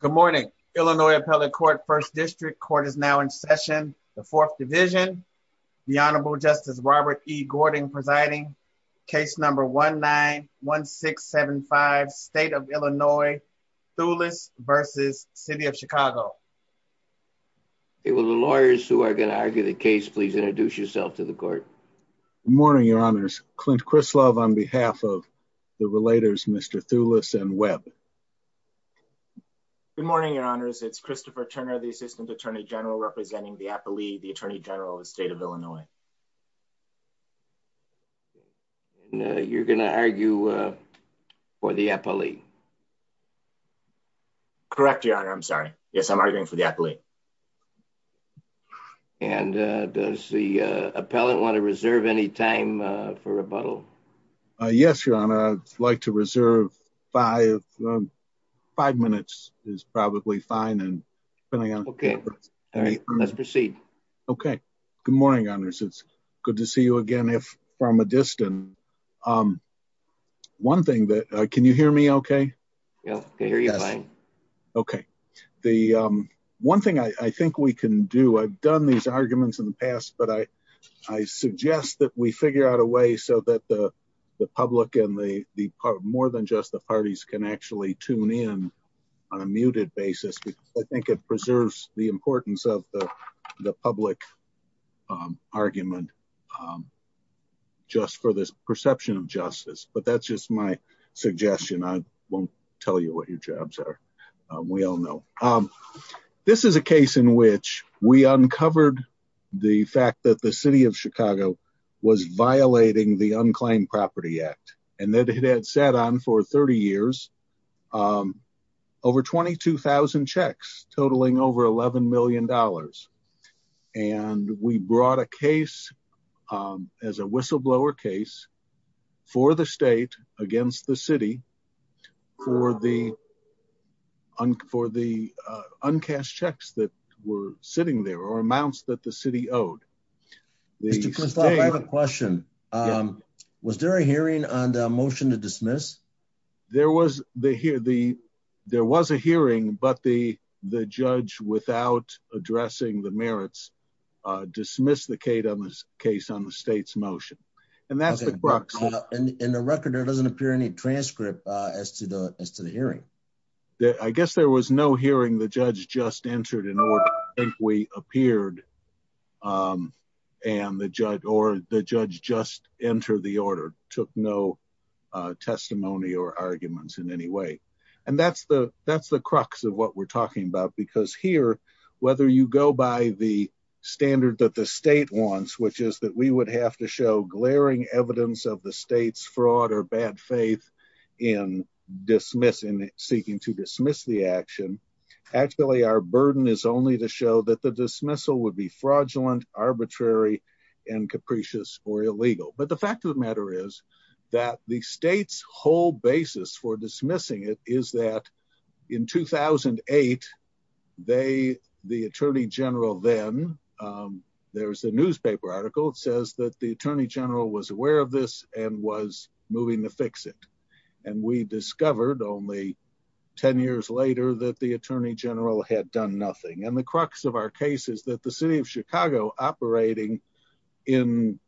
Good morning, Illinois Appellate Court, First District. Court is now in session, the Fourth Division. The Honorable Justice Robert E. Gording presiding. Case number 1-9-1675, State of Illinois, Thouless v. City of Chicago. Hey, will the lawyers who are going to argue the case please introduce yourself to the court? Good morning, Your Honors. Clint Krislov on behalf of the relators, Mr. Thouless and Webb. Good morning, Your Honors. It's Christopher Turner, the Assistant Attorney General representing the Appellee, the Attorney General of the State of Illinois. You're going to argue for the appellee? Correct, Your Honor. I'm sorry. Yes, I'm arguing for the appellee. And does the appellant want to reserve any time for rebuttal? Yes, Your Honor. I'd like to reserve five minutes is probably fine. Let's proceed. Good morning, Your Honors. It's good to see you again from a distance. Can you hear me okay? Yes, we can hear you fine. Okay. One thing I think we can do, I've done these arguments in the past, but I suggest that we figure out a way so that the public and more than just the parties can actually tune in on a muted basis. I think it preserves the importance of the public argument just for this perception of justice. But that's just my suggestion. I won't tell you what your we all know. This is a case in which we uncovered the fact that the city of Chicago was violating the Unclaimed Property Act. And that had sat on for 30 years, over 22,000 checks totaling over $11 million. And we brought a case as a whistleblower case for the state against the city for the uncast checks that were sitting there or amounts that the city owed. Mr. Kristoff, I have a question. Was there a hearing on the motion to dismiss? There was a hearing, but the judge, without addressing the merits, dismissed the case on the state's motion. And that's the crux. In the record, there doesn't appear any transcript as to the hearing. I guess there was no hearing. The judge just entered an order. I think we appeared and the judge or the judge just entered the order, took no testimony or arguments in any way. And that's the crux of what we're talking about. Because here, whether you go by the standard that the state wants, which is that we would have to show glaring evidence of the state's fraud or bad faith in seeking to dismiss the action. Actually, our burden is only to show that the dismissal would be fraudulent, arbitrary, and capricious or illegal. But the fact of the matter is that the state's whole basis for dismissing it is that in 2008, the attorney general then, there was a newspaper article that says that the attorney general was aware of this and was moving to fix it. And we discovered only 10 years later that the attorney general had done nothing. And the crux of our case is that the city of Chicago operating in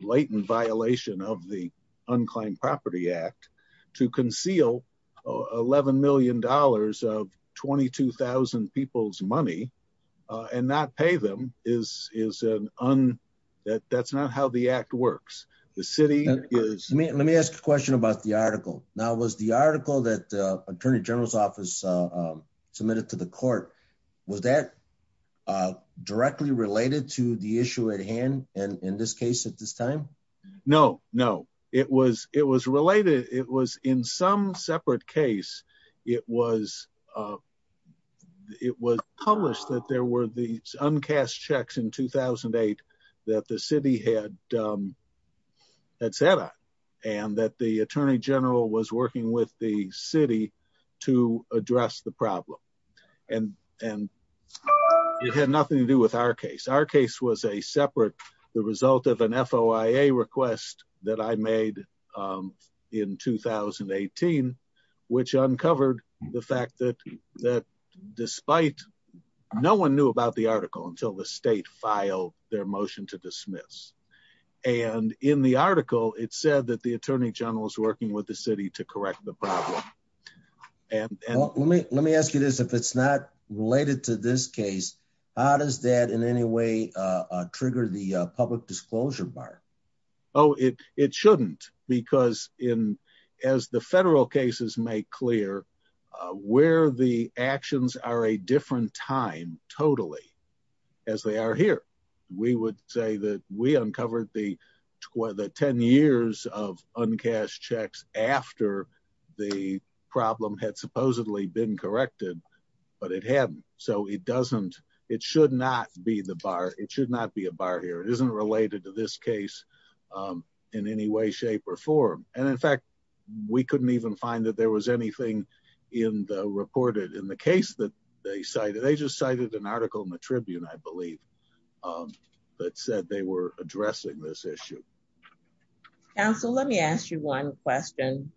blatant violation of the Unclaimed Property Act to conceal $11 million of 22,000 people's money and not pay them, that's not how the act works. The city is- Let me ask a question about the article. Now, was the article that the attorney general's office submitted to the court, was that directly related to the issue at hand in this case at this time? No, no. It was related. It was in some separate case. It was published that there were these uncast checks in 2008 that the city had sat on and that the attorney general was working with the to address the problem. And it had nothing to do with our case. Our case was a separate, the result of an FOIA request that I made in 2018, which uncovered the fact that despite, no one knew about the article until the state filed their motion to dismiss. And in the article, it said that the attorney general is working with the city to correct the problem. And- Let me ask you this. If it's not related to this case, how does that in any way trigger the public disclosure bar? Oh, it shouldn't because as the federal cases make clear, where the actions are a different time totally as they are here. We would say that we uncovered the 10 years of uncast checks after the problem had supposedly been corrected, but it hadn't. So it doesn't, it should not be the bar. It should not be a bar here. It isn't related to this case in any way, shape or form. And in fact, we couldn't even find that there was anything in the reported, in the case that they cited an article in the Tribune, I believe, that said they were addressing this issue. Counsel, let me ask you one question.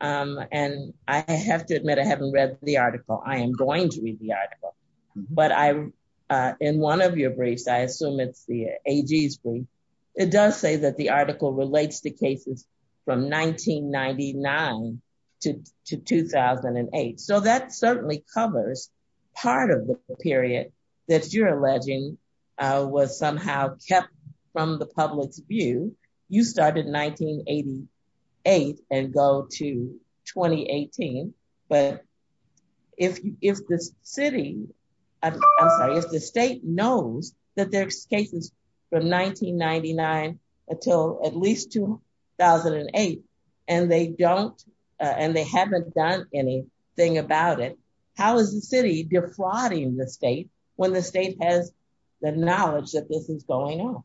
And I have to admit, I haven't read the article. I am going to read the article, but in one of your briefs, I assume it's the AG's brief. It does say that article relates to cases from 1999 to 2008. So that certainly covers part of the period that you're alleging was somehow kept from the public's view. You started 1988 and go to 2018. But if the city, I'm sorry, if the state knows that there's cases from 1999 until at least 2008, and they don't, and they haven't done anything about it, how is the city defrauding the state when the state has the knowledge that this is going on?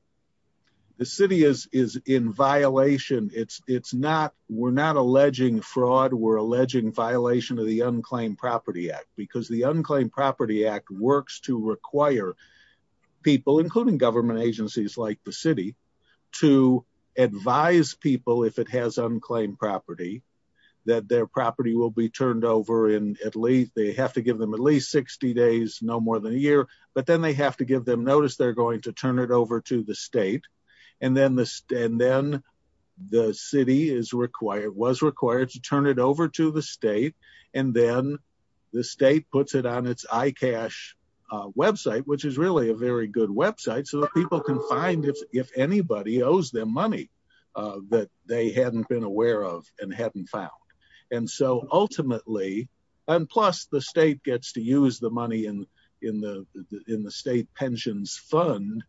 The city is in violation. It's not, we're not alleging fraud, we're alleging violation of the Unclaimed Property Act, because the Unclaimed Property Act works to require people, including government agencies like the city, to advise people, if it has unclaimed property, that their property will be turned over in at least, they have to give them at least 60 days, no more than a year, but then they have to give them notice they're going to turn it over to the state. And then the city is required, was required to turn it over to the state, and then the state puts it on its iCash website, which is really a very good website, so people can find if anybody owes them money that they hadn't been aware of and hadn't found. And so ultimately, and plus the state gets to use the money in the state pensions fund,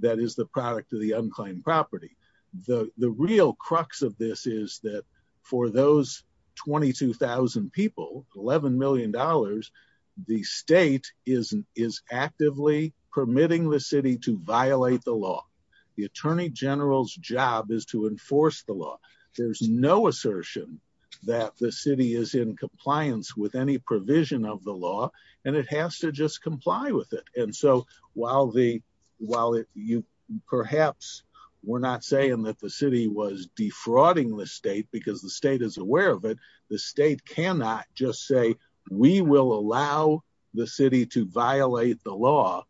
that is the product of the unclaimed property. The real crux of this is that for those 22,000 people, $11 million, the state is actively permitting the city to violate the law. The Attorney General's job is to enforce the law. There's no assertion that the city is in compliance with any provision of the law, and it has to just comply with it. And so while you perhaps were not saying that the city was defrauding the state because the state is aware of it, the state cannot just say, we will allow the city to violate the law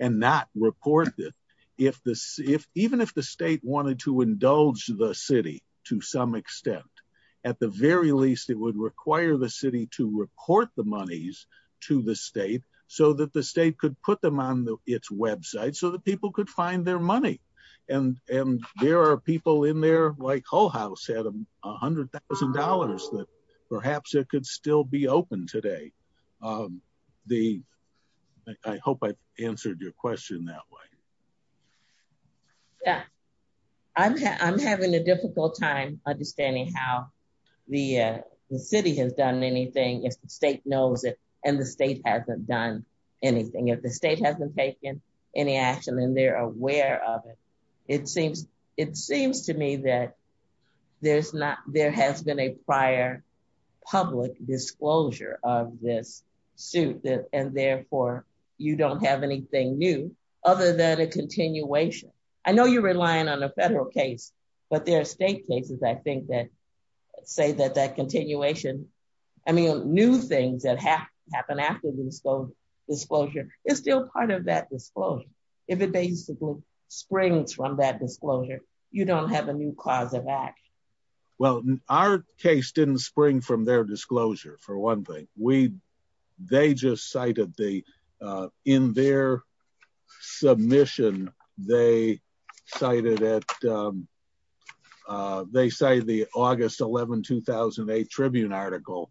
and not report it. Even if the state wanted to indulge the city to some extent, at the very least, it would require the city to report the monies to the state so that the state could put them on its website so that people could find their money. And there are people in there like Hull House had $100,000 that perhaps it could still be open today. I hope I answered your question that way. Yeah. I'm having a difficult time understanding how the city has done anything if the state knows it and the state hasn't done anything. If the state hasn't taken any action and they're aware of it, it seems to me that there has been a prior public disclosure of this suit, and therefore, you don't have anything new other than a continuation. I know you're relying on a federal case, but there are state cases, I think, that say that that continuation, I mean, new things that happen after the disclosure is still part of that disclosure if it basically springs from that disclosure. You don't have a new clause of act. Well, our case didn't spring from their disclosure, for one thing. They just cited the, in their submission, they cited the August 11, 2008 Tribune article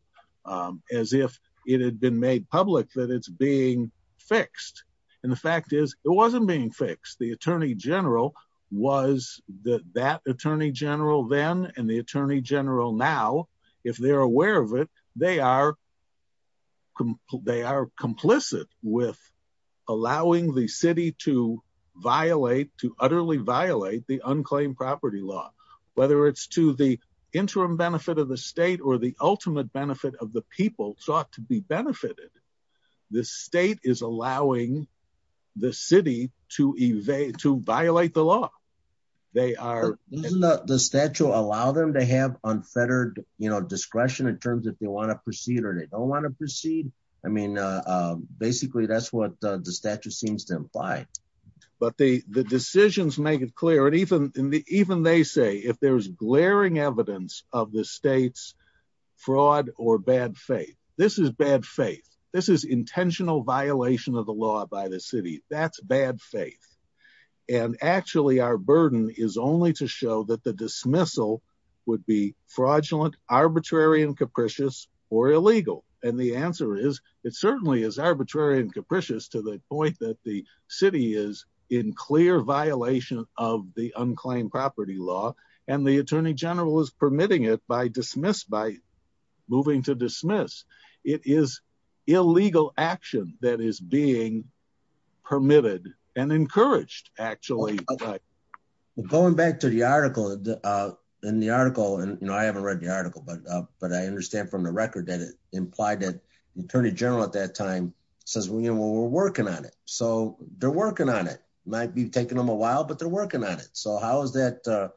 as if it had been made public that it's being fixed. And the fact is, it wasn't being fixed. The Attorney General was that Attorney General then and the Attorney General now, if they're aware of it, they are complicit with allowing the city to violate, to utterly violate the unclaimed property law, whether it's to the interim benefit of the state or the ultimate benefit of the people sought to be benefited. The state is allowing the city to evade, to violate the law. They are... The statute allow them to have unfettered, you know, discretion in terms if they want to proceed or they don't want to proceed. I mean, basically, that's what the statute seems to imply. But the decisions make it clear, and even they say if there's glaring evidence of the state's bad faith, this is bad faith. This is intentional violation of the law by the city. That's bad faith. And actually, our burden is only to show that the dismissal would be fraudulent, arbitrary, and capricious or illegal. And the answer is, it certainly is arbitrary and capricious to the point that the city is in clear violation of the unclaimed property law. And the Attorney General is permitting it by dismiss, by moving to dismiss. It is illegal action that is being permitted and encouraged, actually. Going back to the article in the article, and, you know, I haven't read the article, but I understand from the record that it implied that the Attorney General at that time says, you know, we're working on it. So they're working on it. Might be taking them a while, but they're working on it. So how is that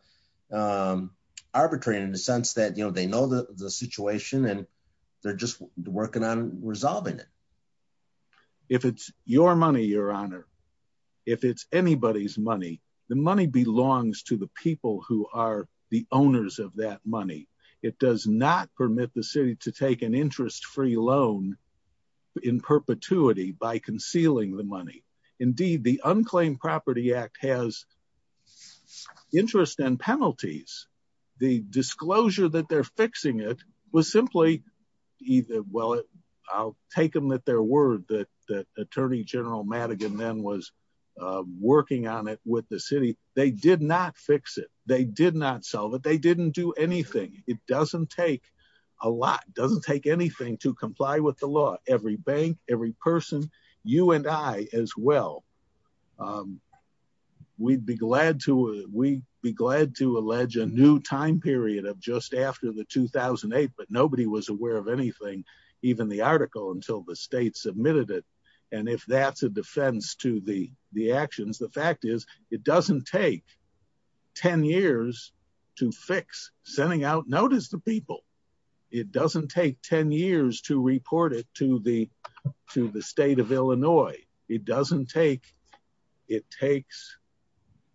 arbitrary in the sense that, you know, they know the situation and they're just working on resolving it? If it's your money, Your Honor, if it's anybody's money, the money belongs to the people who are the owners of that money. It does not permit the city to take an interest-free loan in perpetuity by concealing the money. Indeed, the Unclaimed Property Act has interest and penalties. The disclosure that they're fixing it was simply either, well, I'll take them at their word that Attorney General Madigan then was working on it with the city. They did not fix it. They did not solve it. They didn't do anything. It doesn't take a lot, doesn't take anything to comply with the law, every bank, every person, you and I as well. We'd be glad to, we'd be glad to allege a new time period of just after the 2008, but nobody was aware of anything, even the article until the state submitted it. And if that's a defense to the actions, the fact is it doesn't take 10 years to fix sending out notice to people. It doesn't take 10 years to report it to the state of Illinois. It doesn't take, it takes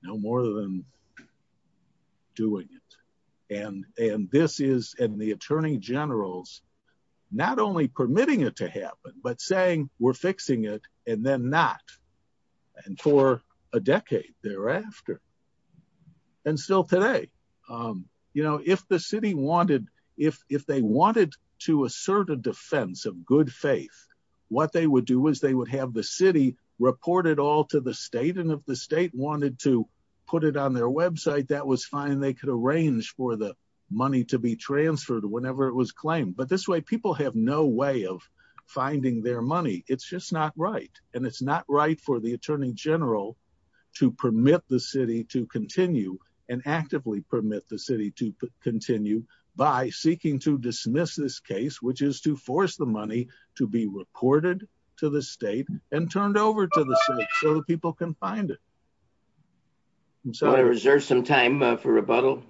no more than doing it. And this is, and the Attorney General's not only permitting it to happen, but saying we're fixing it and then not. And for a decade thereafter and still today, you know, if the city wanted, if they wanted to assert a defense of good faith, what they would do is they would have the city report it all to the state. And if the state wanted to put it on their website, that was fine. They could arrange for the money to be transferred whenever it was claimed, but this way people have no way of finding their money. It's just not right. And it's not right for the Attorney General to permit the city to continue and actively permit the city to continue by seeking to dismiss this case, which is to force the money to be reported to the state and turned over to the state so that people can find it. So I reserve some time for rebuttal.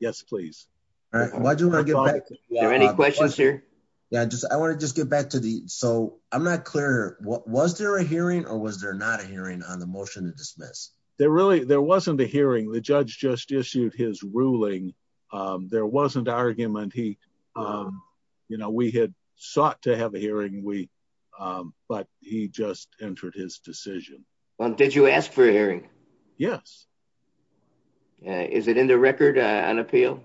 Yes, please. All right. Why do you want to get back? Are there any questions here? Yeah, just, I want to just get back to the, so I'm not clear. Was there a hearing or was there not a hearing on the motion to dismiss? There really, there wasn't a hearing. The judge just issued his ruling. There wasn't argument. He, you know, we had sought to have a hearing. We, but he just entered his decision. Well, did you ask for a hearing? Yes. Is it in the record, an appeal?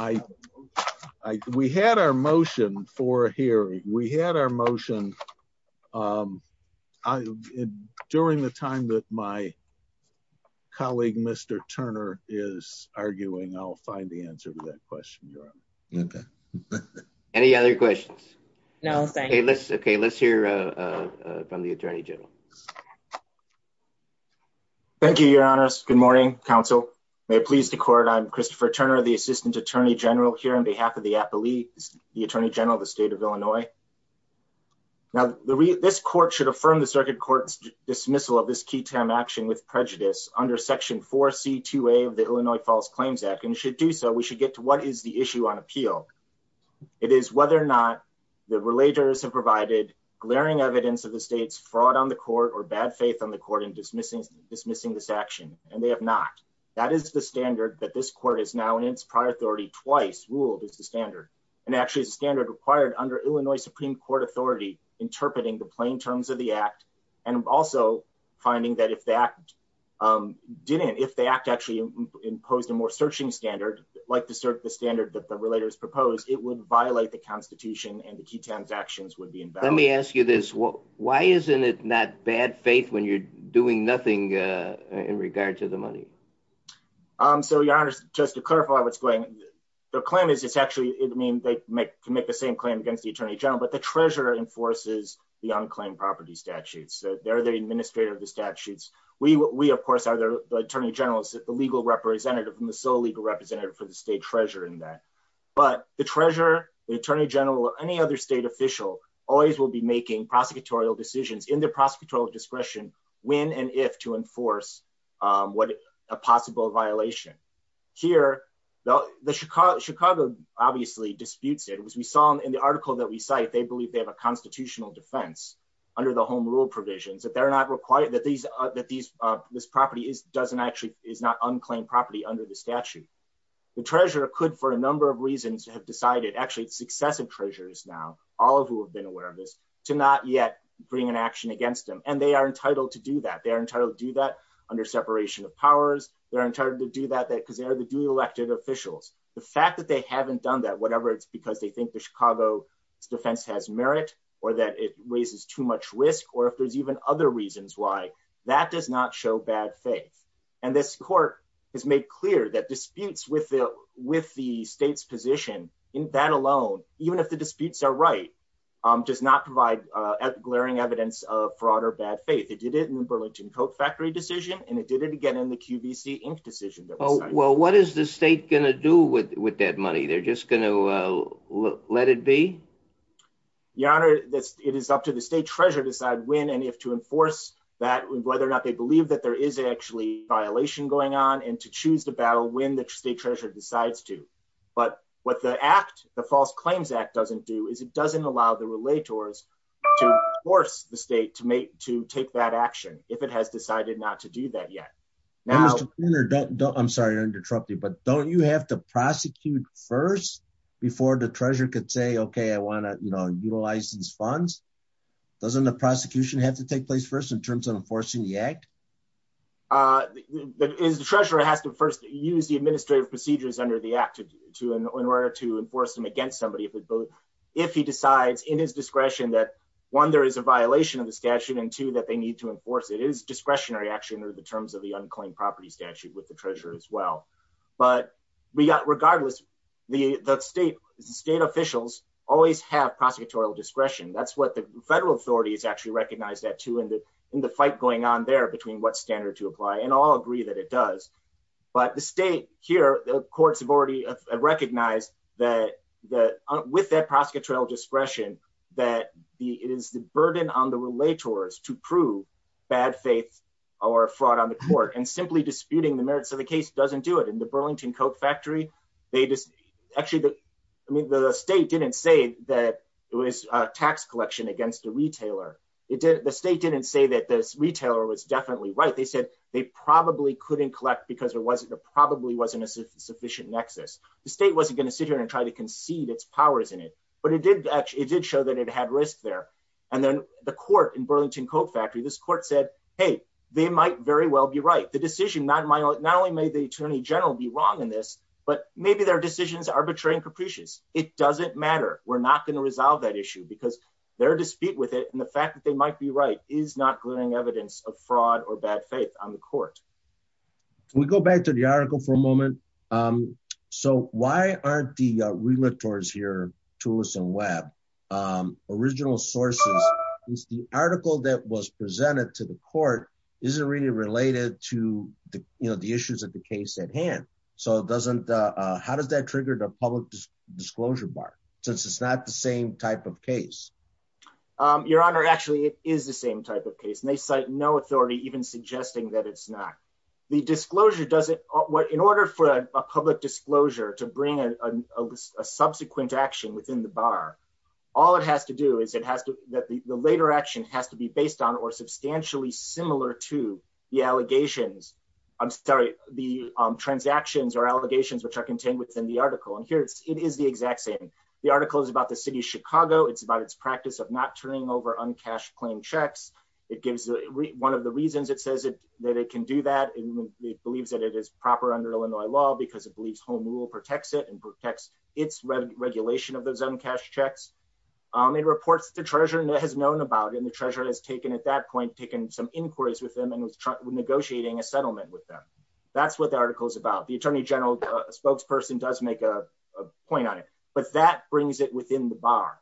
I, I, we had our motion for a hearing. We had our motion. During the time that my colleague, Mr. Turner is arguing, I'll find the answer to that question, okay. Any other questions? No. Okay. Let's, okay. Let's hear from the attorney general. Thank you, your honors. Good morning. Counsel may please the court. I'm Christopher Turner, the assistant attorney general here on behalf of the appellees, the attorney general, the state of Illinois. Now the re this court should affirm the circuit court's dismissal of this key term action with prejudice under section four C two way of the Illinois false claims act and should do so we should get to what is the issue on appeal. It is whether or not the relators have provided glaring evidence of the state's fraud on the court or bad faith on the court in dismissing, dismissing this action. And they have not, that is the standard that this court is now in its prior authority twice ruled as the standard. And actually it's a standard required under Illinois Supreme court authority, interpreting the plain terms of the act. And also finding that if the act, um, didn't, if they act actually imposed a more searching standard, like the cert, the standard that the relators proposed, it would violate the constitution and the key transactions would be, let me ask you this. Why isn't it not bad faith when you're doing nothing, uh, in regard to the money? Um, so your honors, just to clarify what's going, the claim is it's actually, I mean, they can make the same claim against the attorney general, the treasurer enforces the unclaimed property statutes. So they're the administrator of the statutes. We, we of course are the attorney general, the legal representative and the sole legal representative for the state treasurer in that, but the treasurer, the attorney general or any other state official always will be making prosecutorial decisions in their prosecutorial discretion when, and if to enforce, um, what a possible violation here, though the Chicago, obviously disputes it was, we saw in the article that we cite, they believe they have a constitutional defense under the home rule provisions that they're not required that these, uh, that these, uh, this property is, doesn't actually, is not unclaimed property under the statute. The treasurer could, for a number of reasons to have decided actually successive treasurers now, all of who have been aware of this to not yet bring an action against them. And they are entitled to do that. They are entitled to do that under separation of powers. They're entitled to do that because they are the duly elected officials. The fact that they haven't done that, whatever, it's because they think the Chicago defense has merit or that it raises too much risk, or if there's even other reasons why that does not show bad faith. And this court has made clear that disputes with the, with the state's position in that alone, even if the disputes are right, um, does not provide, uh, glaring evidence of fraud or bad faith. It did it in the Burlington factory decision, and it did it again in the QVC Inc decision. Oh, well, what is the state going to do with, with that money? They're just going to, uh, let it be. Your honor, it is up to the state treasurer to decide when, and if to enforce that, whether or not they believe that there is actually violation going on and to choose the battle when the state treasurer decides to, but what the act, the false claims act doesn't do is it doesn't allow the relators to force the state to make, to take that action. If it has decided not to do that yet. Now, I'm sorry to interrupt you, but don't you have to prosecute first before the treasurer could say, okay, I want to, you know, utilize these funds. Doesn't the prosecution have to take place first in terms of enforcing the act? Uh, is the treasurer has to first use the administrative procedures under the act to, to, in order to enforce them against somebody. If he decides in his discretion that one, there is a violation of the statute and two, that they need to enforce it is discretionary action or the terms of the unclaimed property statute with the treasurer as well. But we got regardless the state state officials always have prosecutorial discretion. That's what the federal authority is actually recognized at two in the, in the fight going on there between what standard to apply and all agree that it does. But the state here, courts have already recognized that, that with that prosecutorial discretion, that the, it is the burden on the relators to prove bad faith or fraud on the court and simply disputing the merits of the case. It doesn't do it in the Burlington Coke factory. They just actually, I mean, the state didn't say that it was a tax collection against the retailer. It did. The state didn't say that this retailer was definitely right. They said they probably couldn't collect because there probably wasn't a sufficient nexus. The state wasn't going to sit here and try to concede its powers in it, but it did actually, it did show that it had risk there. And then the court in Burlington Coke factory, this court said, Hey, they might very well be right. The decision, not only made the attorney general be wrong in this, but maybe their decisions are betraying capricious. It doesn't matter. We're not going to resolve that issue because they're to speak with it. And the fact that they might be right is not glaring evidence of fraud or bad faith on the court. We go back to the article for a moment. So why aren't the realtors here tools and web original sources is the article that was presented to the court. Is it really related to the, you know, the issues of the case at hand? So it doesn't how does that trigger the public disclosure bar since it's not the same type of case? Your honor, actually it is the same type of case. And they cite no authority, even suggesting that it's not the disclosure. Does it in order for a public disclosure to bring a subsequent action within the bar, all it has to do is it has to, that the later action has to be based on or substantially similar to the allegations. I'm sorry, the transactions or allegations, which are contained within the article. And here it's, it is the exact same. The article is about the city of Chicago. It's about its practice of not turning over uncashed claim checks. It gives one of the reasons it says that it can do that. And it believes that it is proper under Illinois law because it believes home rule protects it and protects its regulation of those uncashed checks. It reports to the treasurer and has known about it. And the treasurer has taken at that point, taken some inquiries with them and was negotiating a settlement with them. That's what the article is about. The attorney general spokesperson does make a point on it, but that brings it within the bar.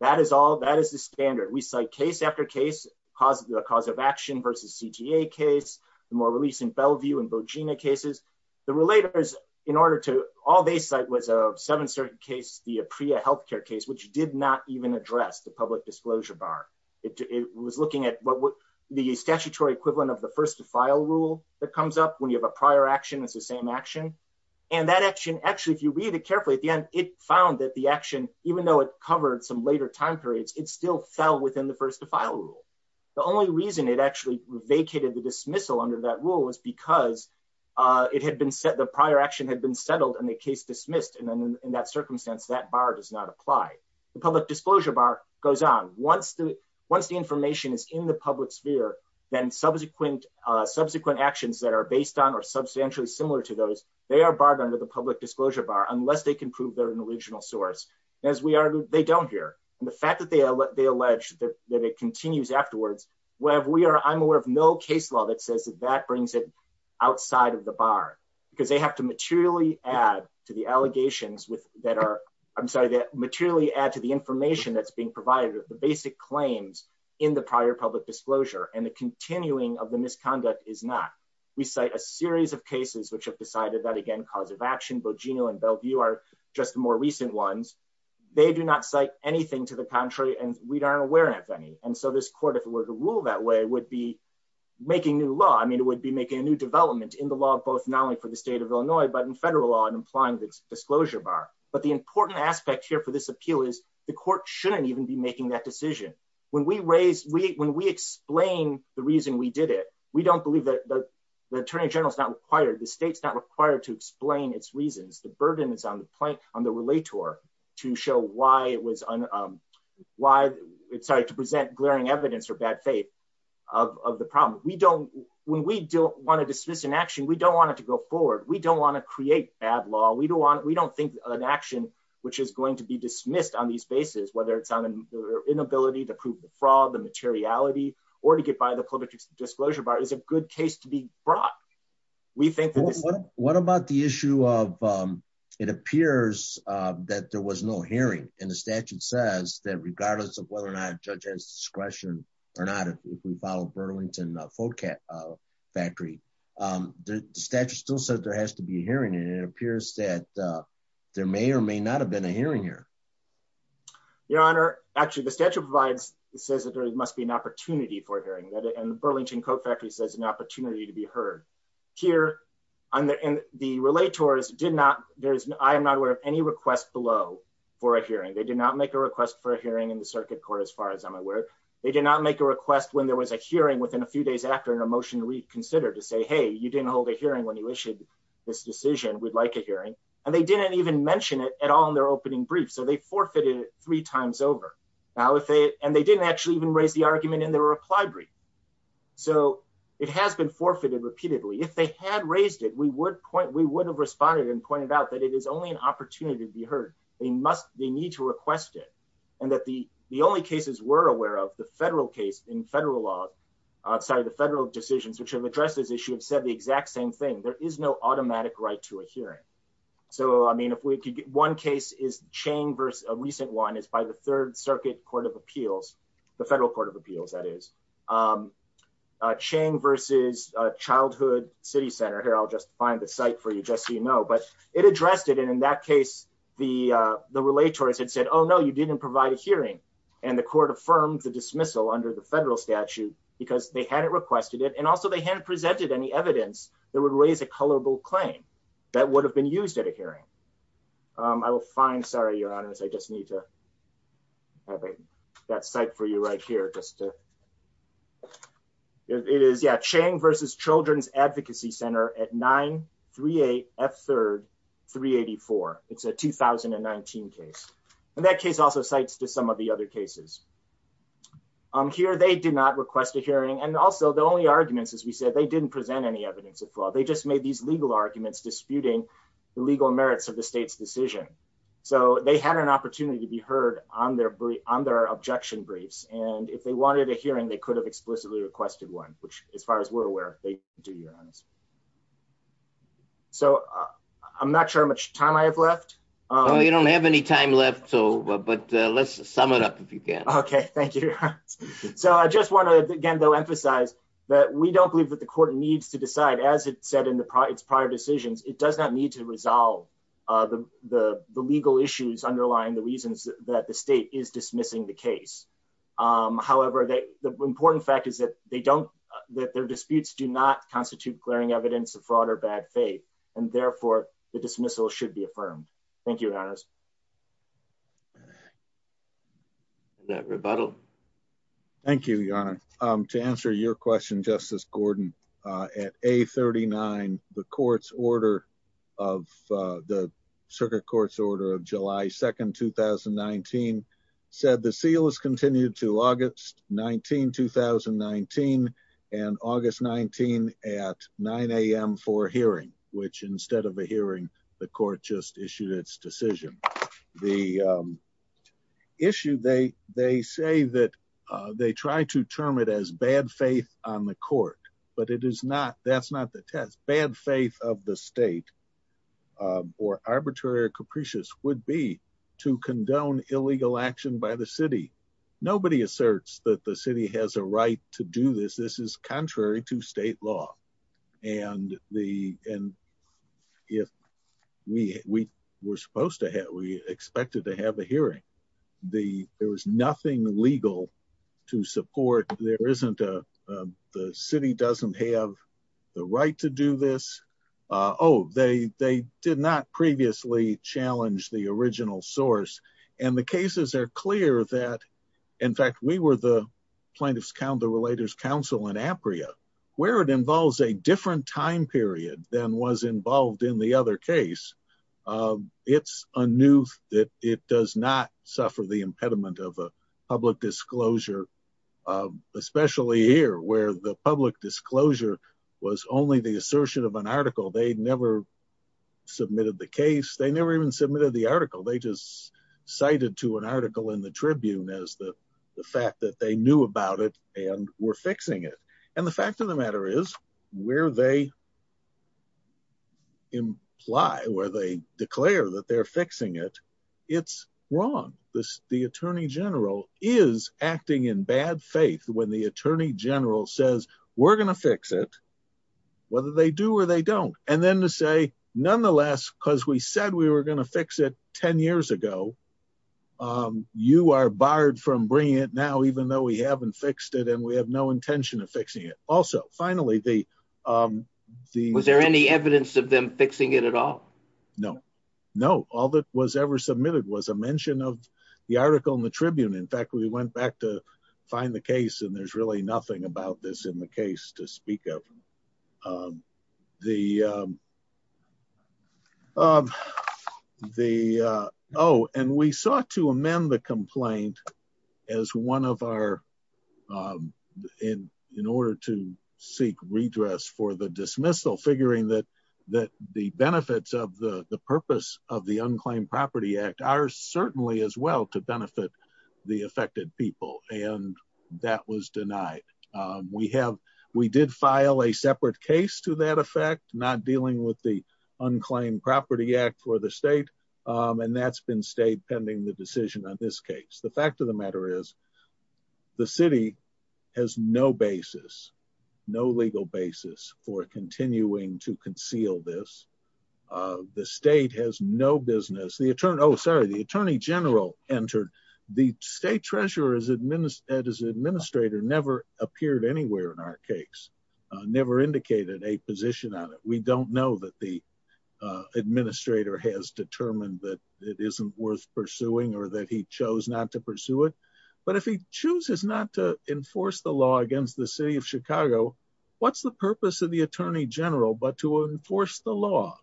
That is all, that is the standard. We cite case after case, the cause of action versus CTA case, the more releasant Bellevue and Bojena cases. The relators in order to, all they cite was a seven certain case, the APREA healthcare case, which did not even address the public disclosure bar. It was looking at the statutory equivalent of the first to file rule that comes up when you have a prior action, it's the same action. And that action, actually, if you read it carefully at the end, it found that the action, even though it covered some later time periods, it still fell within the first to file rule. The only reason it actually vacated the dismissal under that rule was because it had been set, the prior action had been settled and the case dismissed. And then in that circumstance, that bar does not apply. The public disclosure bar goes on. Once the information is in the public sphere, then subsequent actions that are based on or substantially similar to those, they are barred under the public disclosure bar, unless they can prove they're an original source. As we argued, they don't hear. And the fact that they allege that it continues afterwards, where we are, I'm aware of no case law that says that that brings it outside of the bar, because they have to materially add to the allegations that are, I'm sorry, that materially add to the information that's being provided, the basic claims in the prior public disclosure, and the continuing of the misconduct is not. We cite a series of cases which have decided that, again, cause of action, Bojino and Bellevue are just the more recent ones. They do not cite anything to the contrary, and we aren't aware of any. And so this court, if it were to rule that way, would be making new law. I mean, it would be making a new development in the law of both not only for the state of Illinois, but in federal law and applying the disclosure bar. But the important aspect here for this appeal is the court shouldn't even be making that decision. When we raise, when we explain the reason we did it, we don't believe that the attorney general is not required, the state's not required to explain its reasons. The burden is on the plaint, on the relator to show why it was, why, sorry, to present glaring evidence or bad faith of the problem. We don't, when we don't want to dismiss an action, we don't want it to go forward. We don't want to create ad law. We don't want, we don't think an action, which is going to be dismissed on these bases, whether it's on an inability to prove the fraud, the materiality, or to get by the public disclosure bar is a good case to be brought. We think- What about the issue of, it appears that there was no hearing and the statute says that regardless of whether or not judge has discretion or not, if we follow Burlington Folk Factory, the statute still says there has to be a hearing. And it appears that there may or may not have been a hearing here. Your Honor, actually the statute provides, it says that there must be an opportunity for hearing that in Burlington Coat Factory says an opportunity to be heard here on the, in the relay tours did not, there's, I am not aware of any request below for a hearing. They did not make a request for a hearing in the circuit court. As far as I'm aware, they did not make a request when there was a hearing within a few days after an emotion reconsidered. You didn't hold a hearing when you issued this decision, we'd like a hearing. And they didn't even mention it at all in their opening brief. So they forfeited it three times over. Now, if they, and they didn't actually even raise the argument in the reply brief. So it has been forfeited repeatedly. If they had raised it, we would point, we would have responded and pointed out that it is only an opportunity to be heard. They must, they need to request it. And that the, the only cases we're aware of the federal case in federal law outside of the federal decisions, which have issued said the exact same thing. There is no automatic right to a hearing. So, I mean, if we could get one case is chain versus a recent one is by the third circuit court of appeals, the federal court of appeals, that is a chain versus a childhood city center here. I'll just find the site for you just so you know, but it addressed it. And in that case, the the relay tours had said, Oh no, you didn't provide a hearing. And the court affirmed the dismissal under the federal statute because they hadn't requested it. And also they hadn't presented any evidence that would raise a colorable claim that would have been used at a hearing. I will find, sorry, your honors. I just need to have that site for you right here. Just to it is yeah. Chang versus children's advocacy center at nine three, eight F third, three 84. It's a 2019 case. And that case also sites to some of the other cases. I'm here. They did not request a hearing. And also the only arguments, as we said, they didn't present any evidence of flaw. They just made these legal arguments disputing the legal merits of the state's decision. So they had an opportunity to be heard on their objection briefs. And if they wanted a hearing, they could have explicitly requested one, which as far as we're aware, they do your honors. So I'm not sure how much time I have left. You don't have any time left. So, but let's sum it up if you can. Okay. Thank you. So I just want to, again, though, emphasize that we don't believe that the court needs to decide as it said in the prior decisions, it does not need to resolve the legal issues underlying the reasons that the state is dismissing the case. However, the important fact is that they don't that their disputes do not constitute glaring evidence of fraud or bad faith, and therefore the dismissal should be affirmed. Thank you. That rebuttal. Thank you, your honor. To answer your question, Justice Gordon, at a 39, the court's order of the circuit court's order of July 2nd, 2019, said the seal is continued to August 19, 2019, and August 19 at 9am for hearing, which instead of a hearing, the court just issued its decision. The issue they say that they try to term it as bad faith on the court, but it is not. That's not the test. Bad faith of the state or arbitrary or capricious would be to condone illegal action by the city. Nobody asserts that the city has a right to do this. This is contrary to state law. If we were supposed to have, we expected to have a hearing, there was nothing legal to support. The city doesn't have the right to do this. Oh, they did not previously challenge the original source. The cases are clear that, in fact, we were the plaintiff's counterrelators council in Apria, where it involves a different time period than was involved in the other case. It's a new that it does not suffer the impediment of a public disclosure, especially here where the public disclosure was only the assertion of an article. They never submitted the case. They never submitted the article. They just cited to an article in the Tribune as the fact that they knew about it and were fixing it. The fact of the matter is, where they declare that they're fixing it, it's wrong. The attorney general is acting in bad faith when the attorney general says we're going to fix it, whether they do or they don't. Then to say, nonetheless, because we said we were going to fix it 10 years ago, you are barred from bringing it now, even though we haven't fixed it and we have no intention of fixing it. Also, finally, the... Was there any evidence of them fixing it at all? No. No. All that was ever submitted was a mention of the article in the Tribune. In fact, we went back to find the case and there's really nothing about this in the Tribune. We sought to amend the complaint in order to seek redress for the dismissal, figuring that the benefits of the purpose of the Unclaimed Property Act are certainly as well to benefit the affected people. That was denied. We did file a separate case to that effect, not dealing with the Unclaimed Property Act for the state. That's been stayed pending the decision on this case. The fact of the matter is, the city has no basis, no legal basis for continuing to conceal this. The state has no business. The attorney... Oh, sorry. The attorney general entered. The state treasurer as administrator never appeared anywhere in our case. We don't know that the administrator has determined that it isn't worth pursuing or that he chose not to pursue it. But if he chooses not to enforce the law against the city of Chicago, what's the purpose of the attorney general but to enforce the law?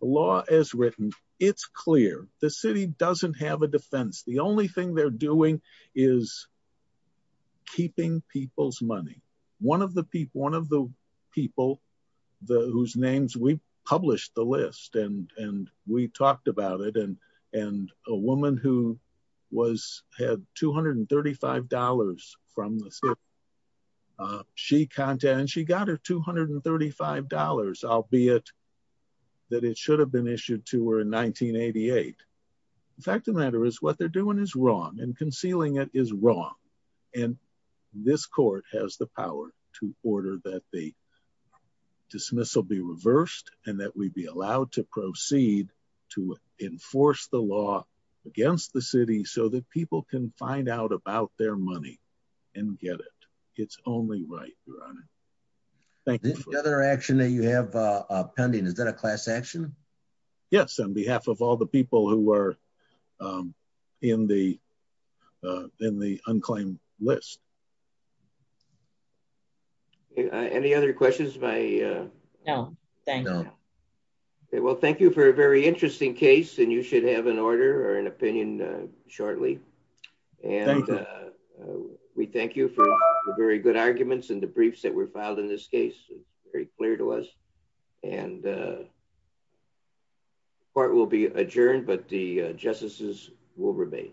The law as written, it's clear. The city doesn't have a defense. The only thing they're doing is keeping people's names. We published the list and we talked about it. A woman who had $235 from the city, she got her $235, albeit that it should have been issued to her in 1988. The fact of the matter is, what they're doing is wrong and concealing it is wrong. And this court has the power to order that the dismissal be reversed and that we be allowed to proceed to enforce the law against the city so that people can find out about their money and get it. It's only right, Your Honor. Thank you. The other action that you have pending, is that a class action? Yes, on behalf of all the people who were in the unclaimed list. Any other questions? No, thank you. Well, thank you for a very interesting case and you should have an order or an opinion shortly. Thank you. We thank you for the very good case. The court will be adjourned, but the justices will remain.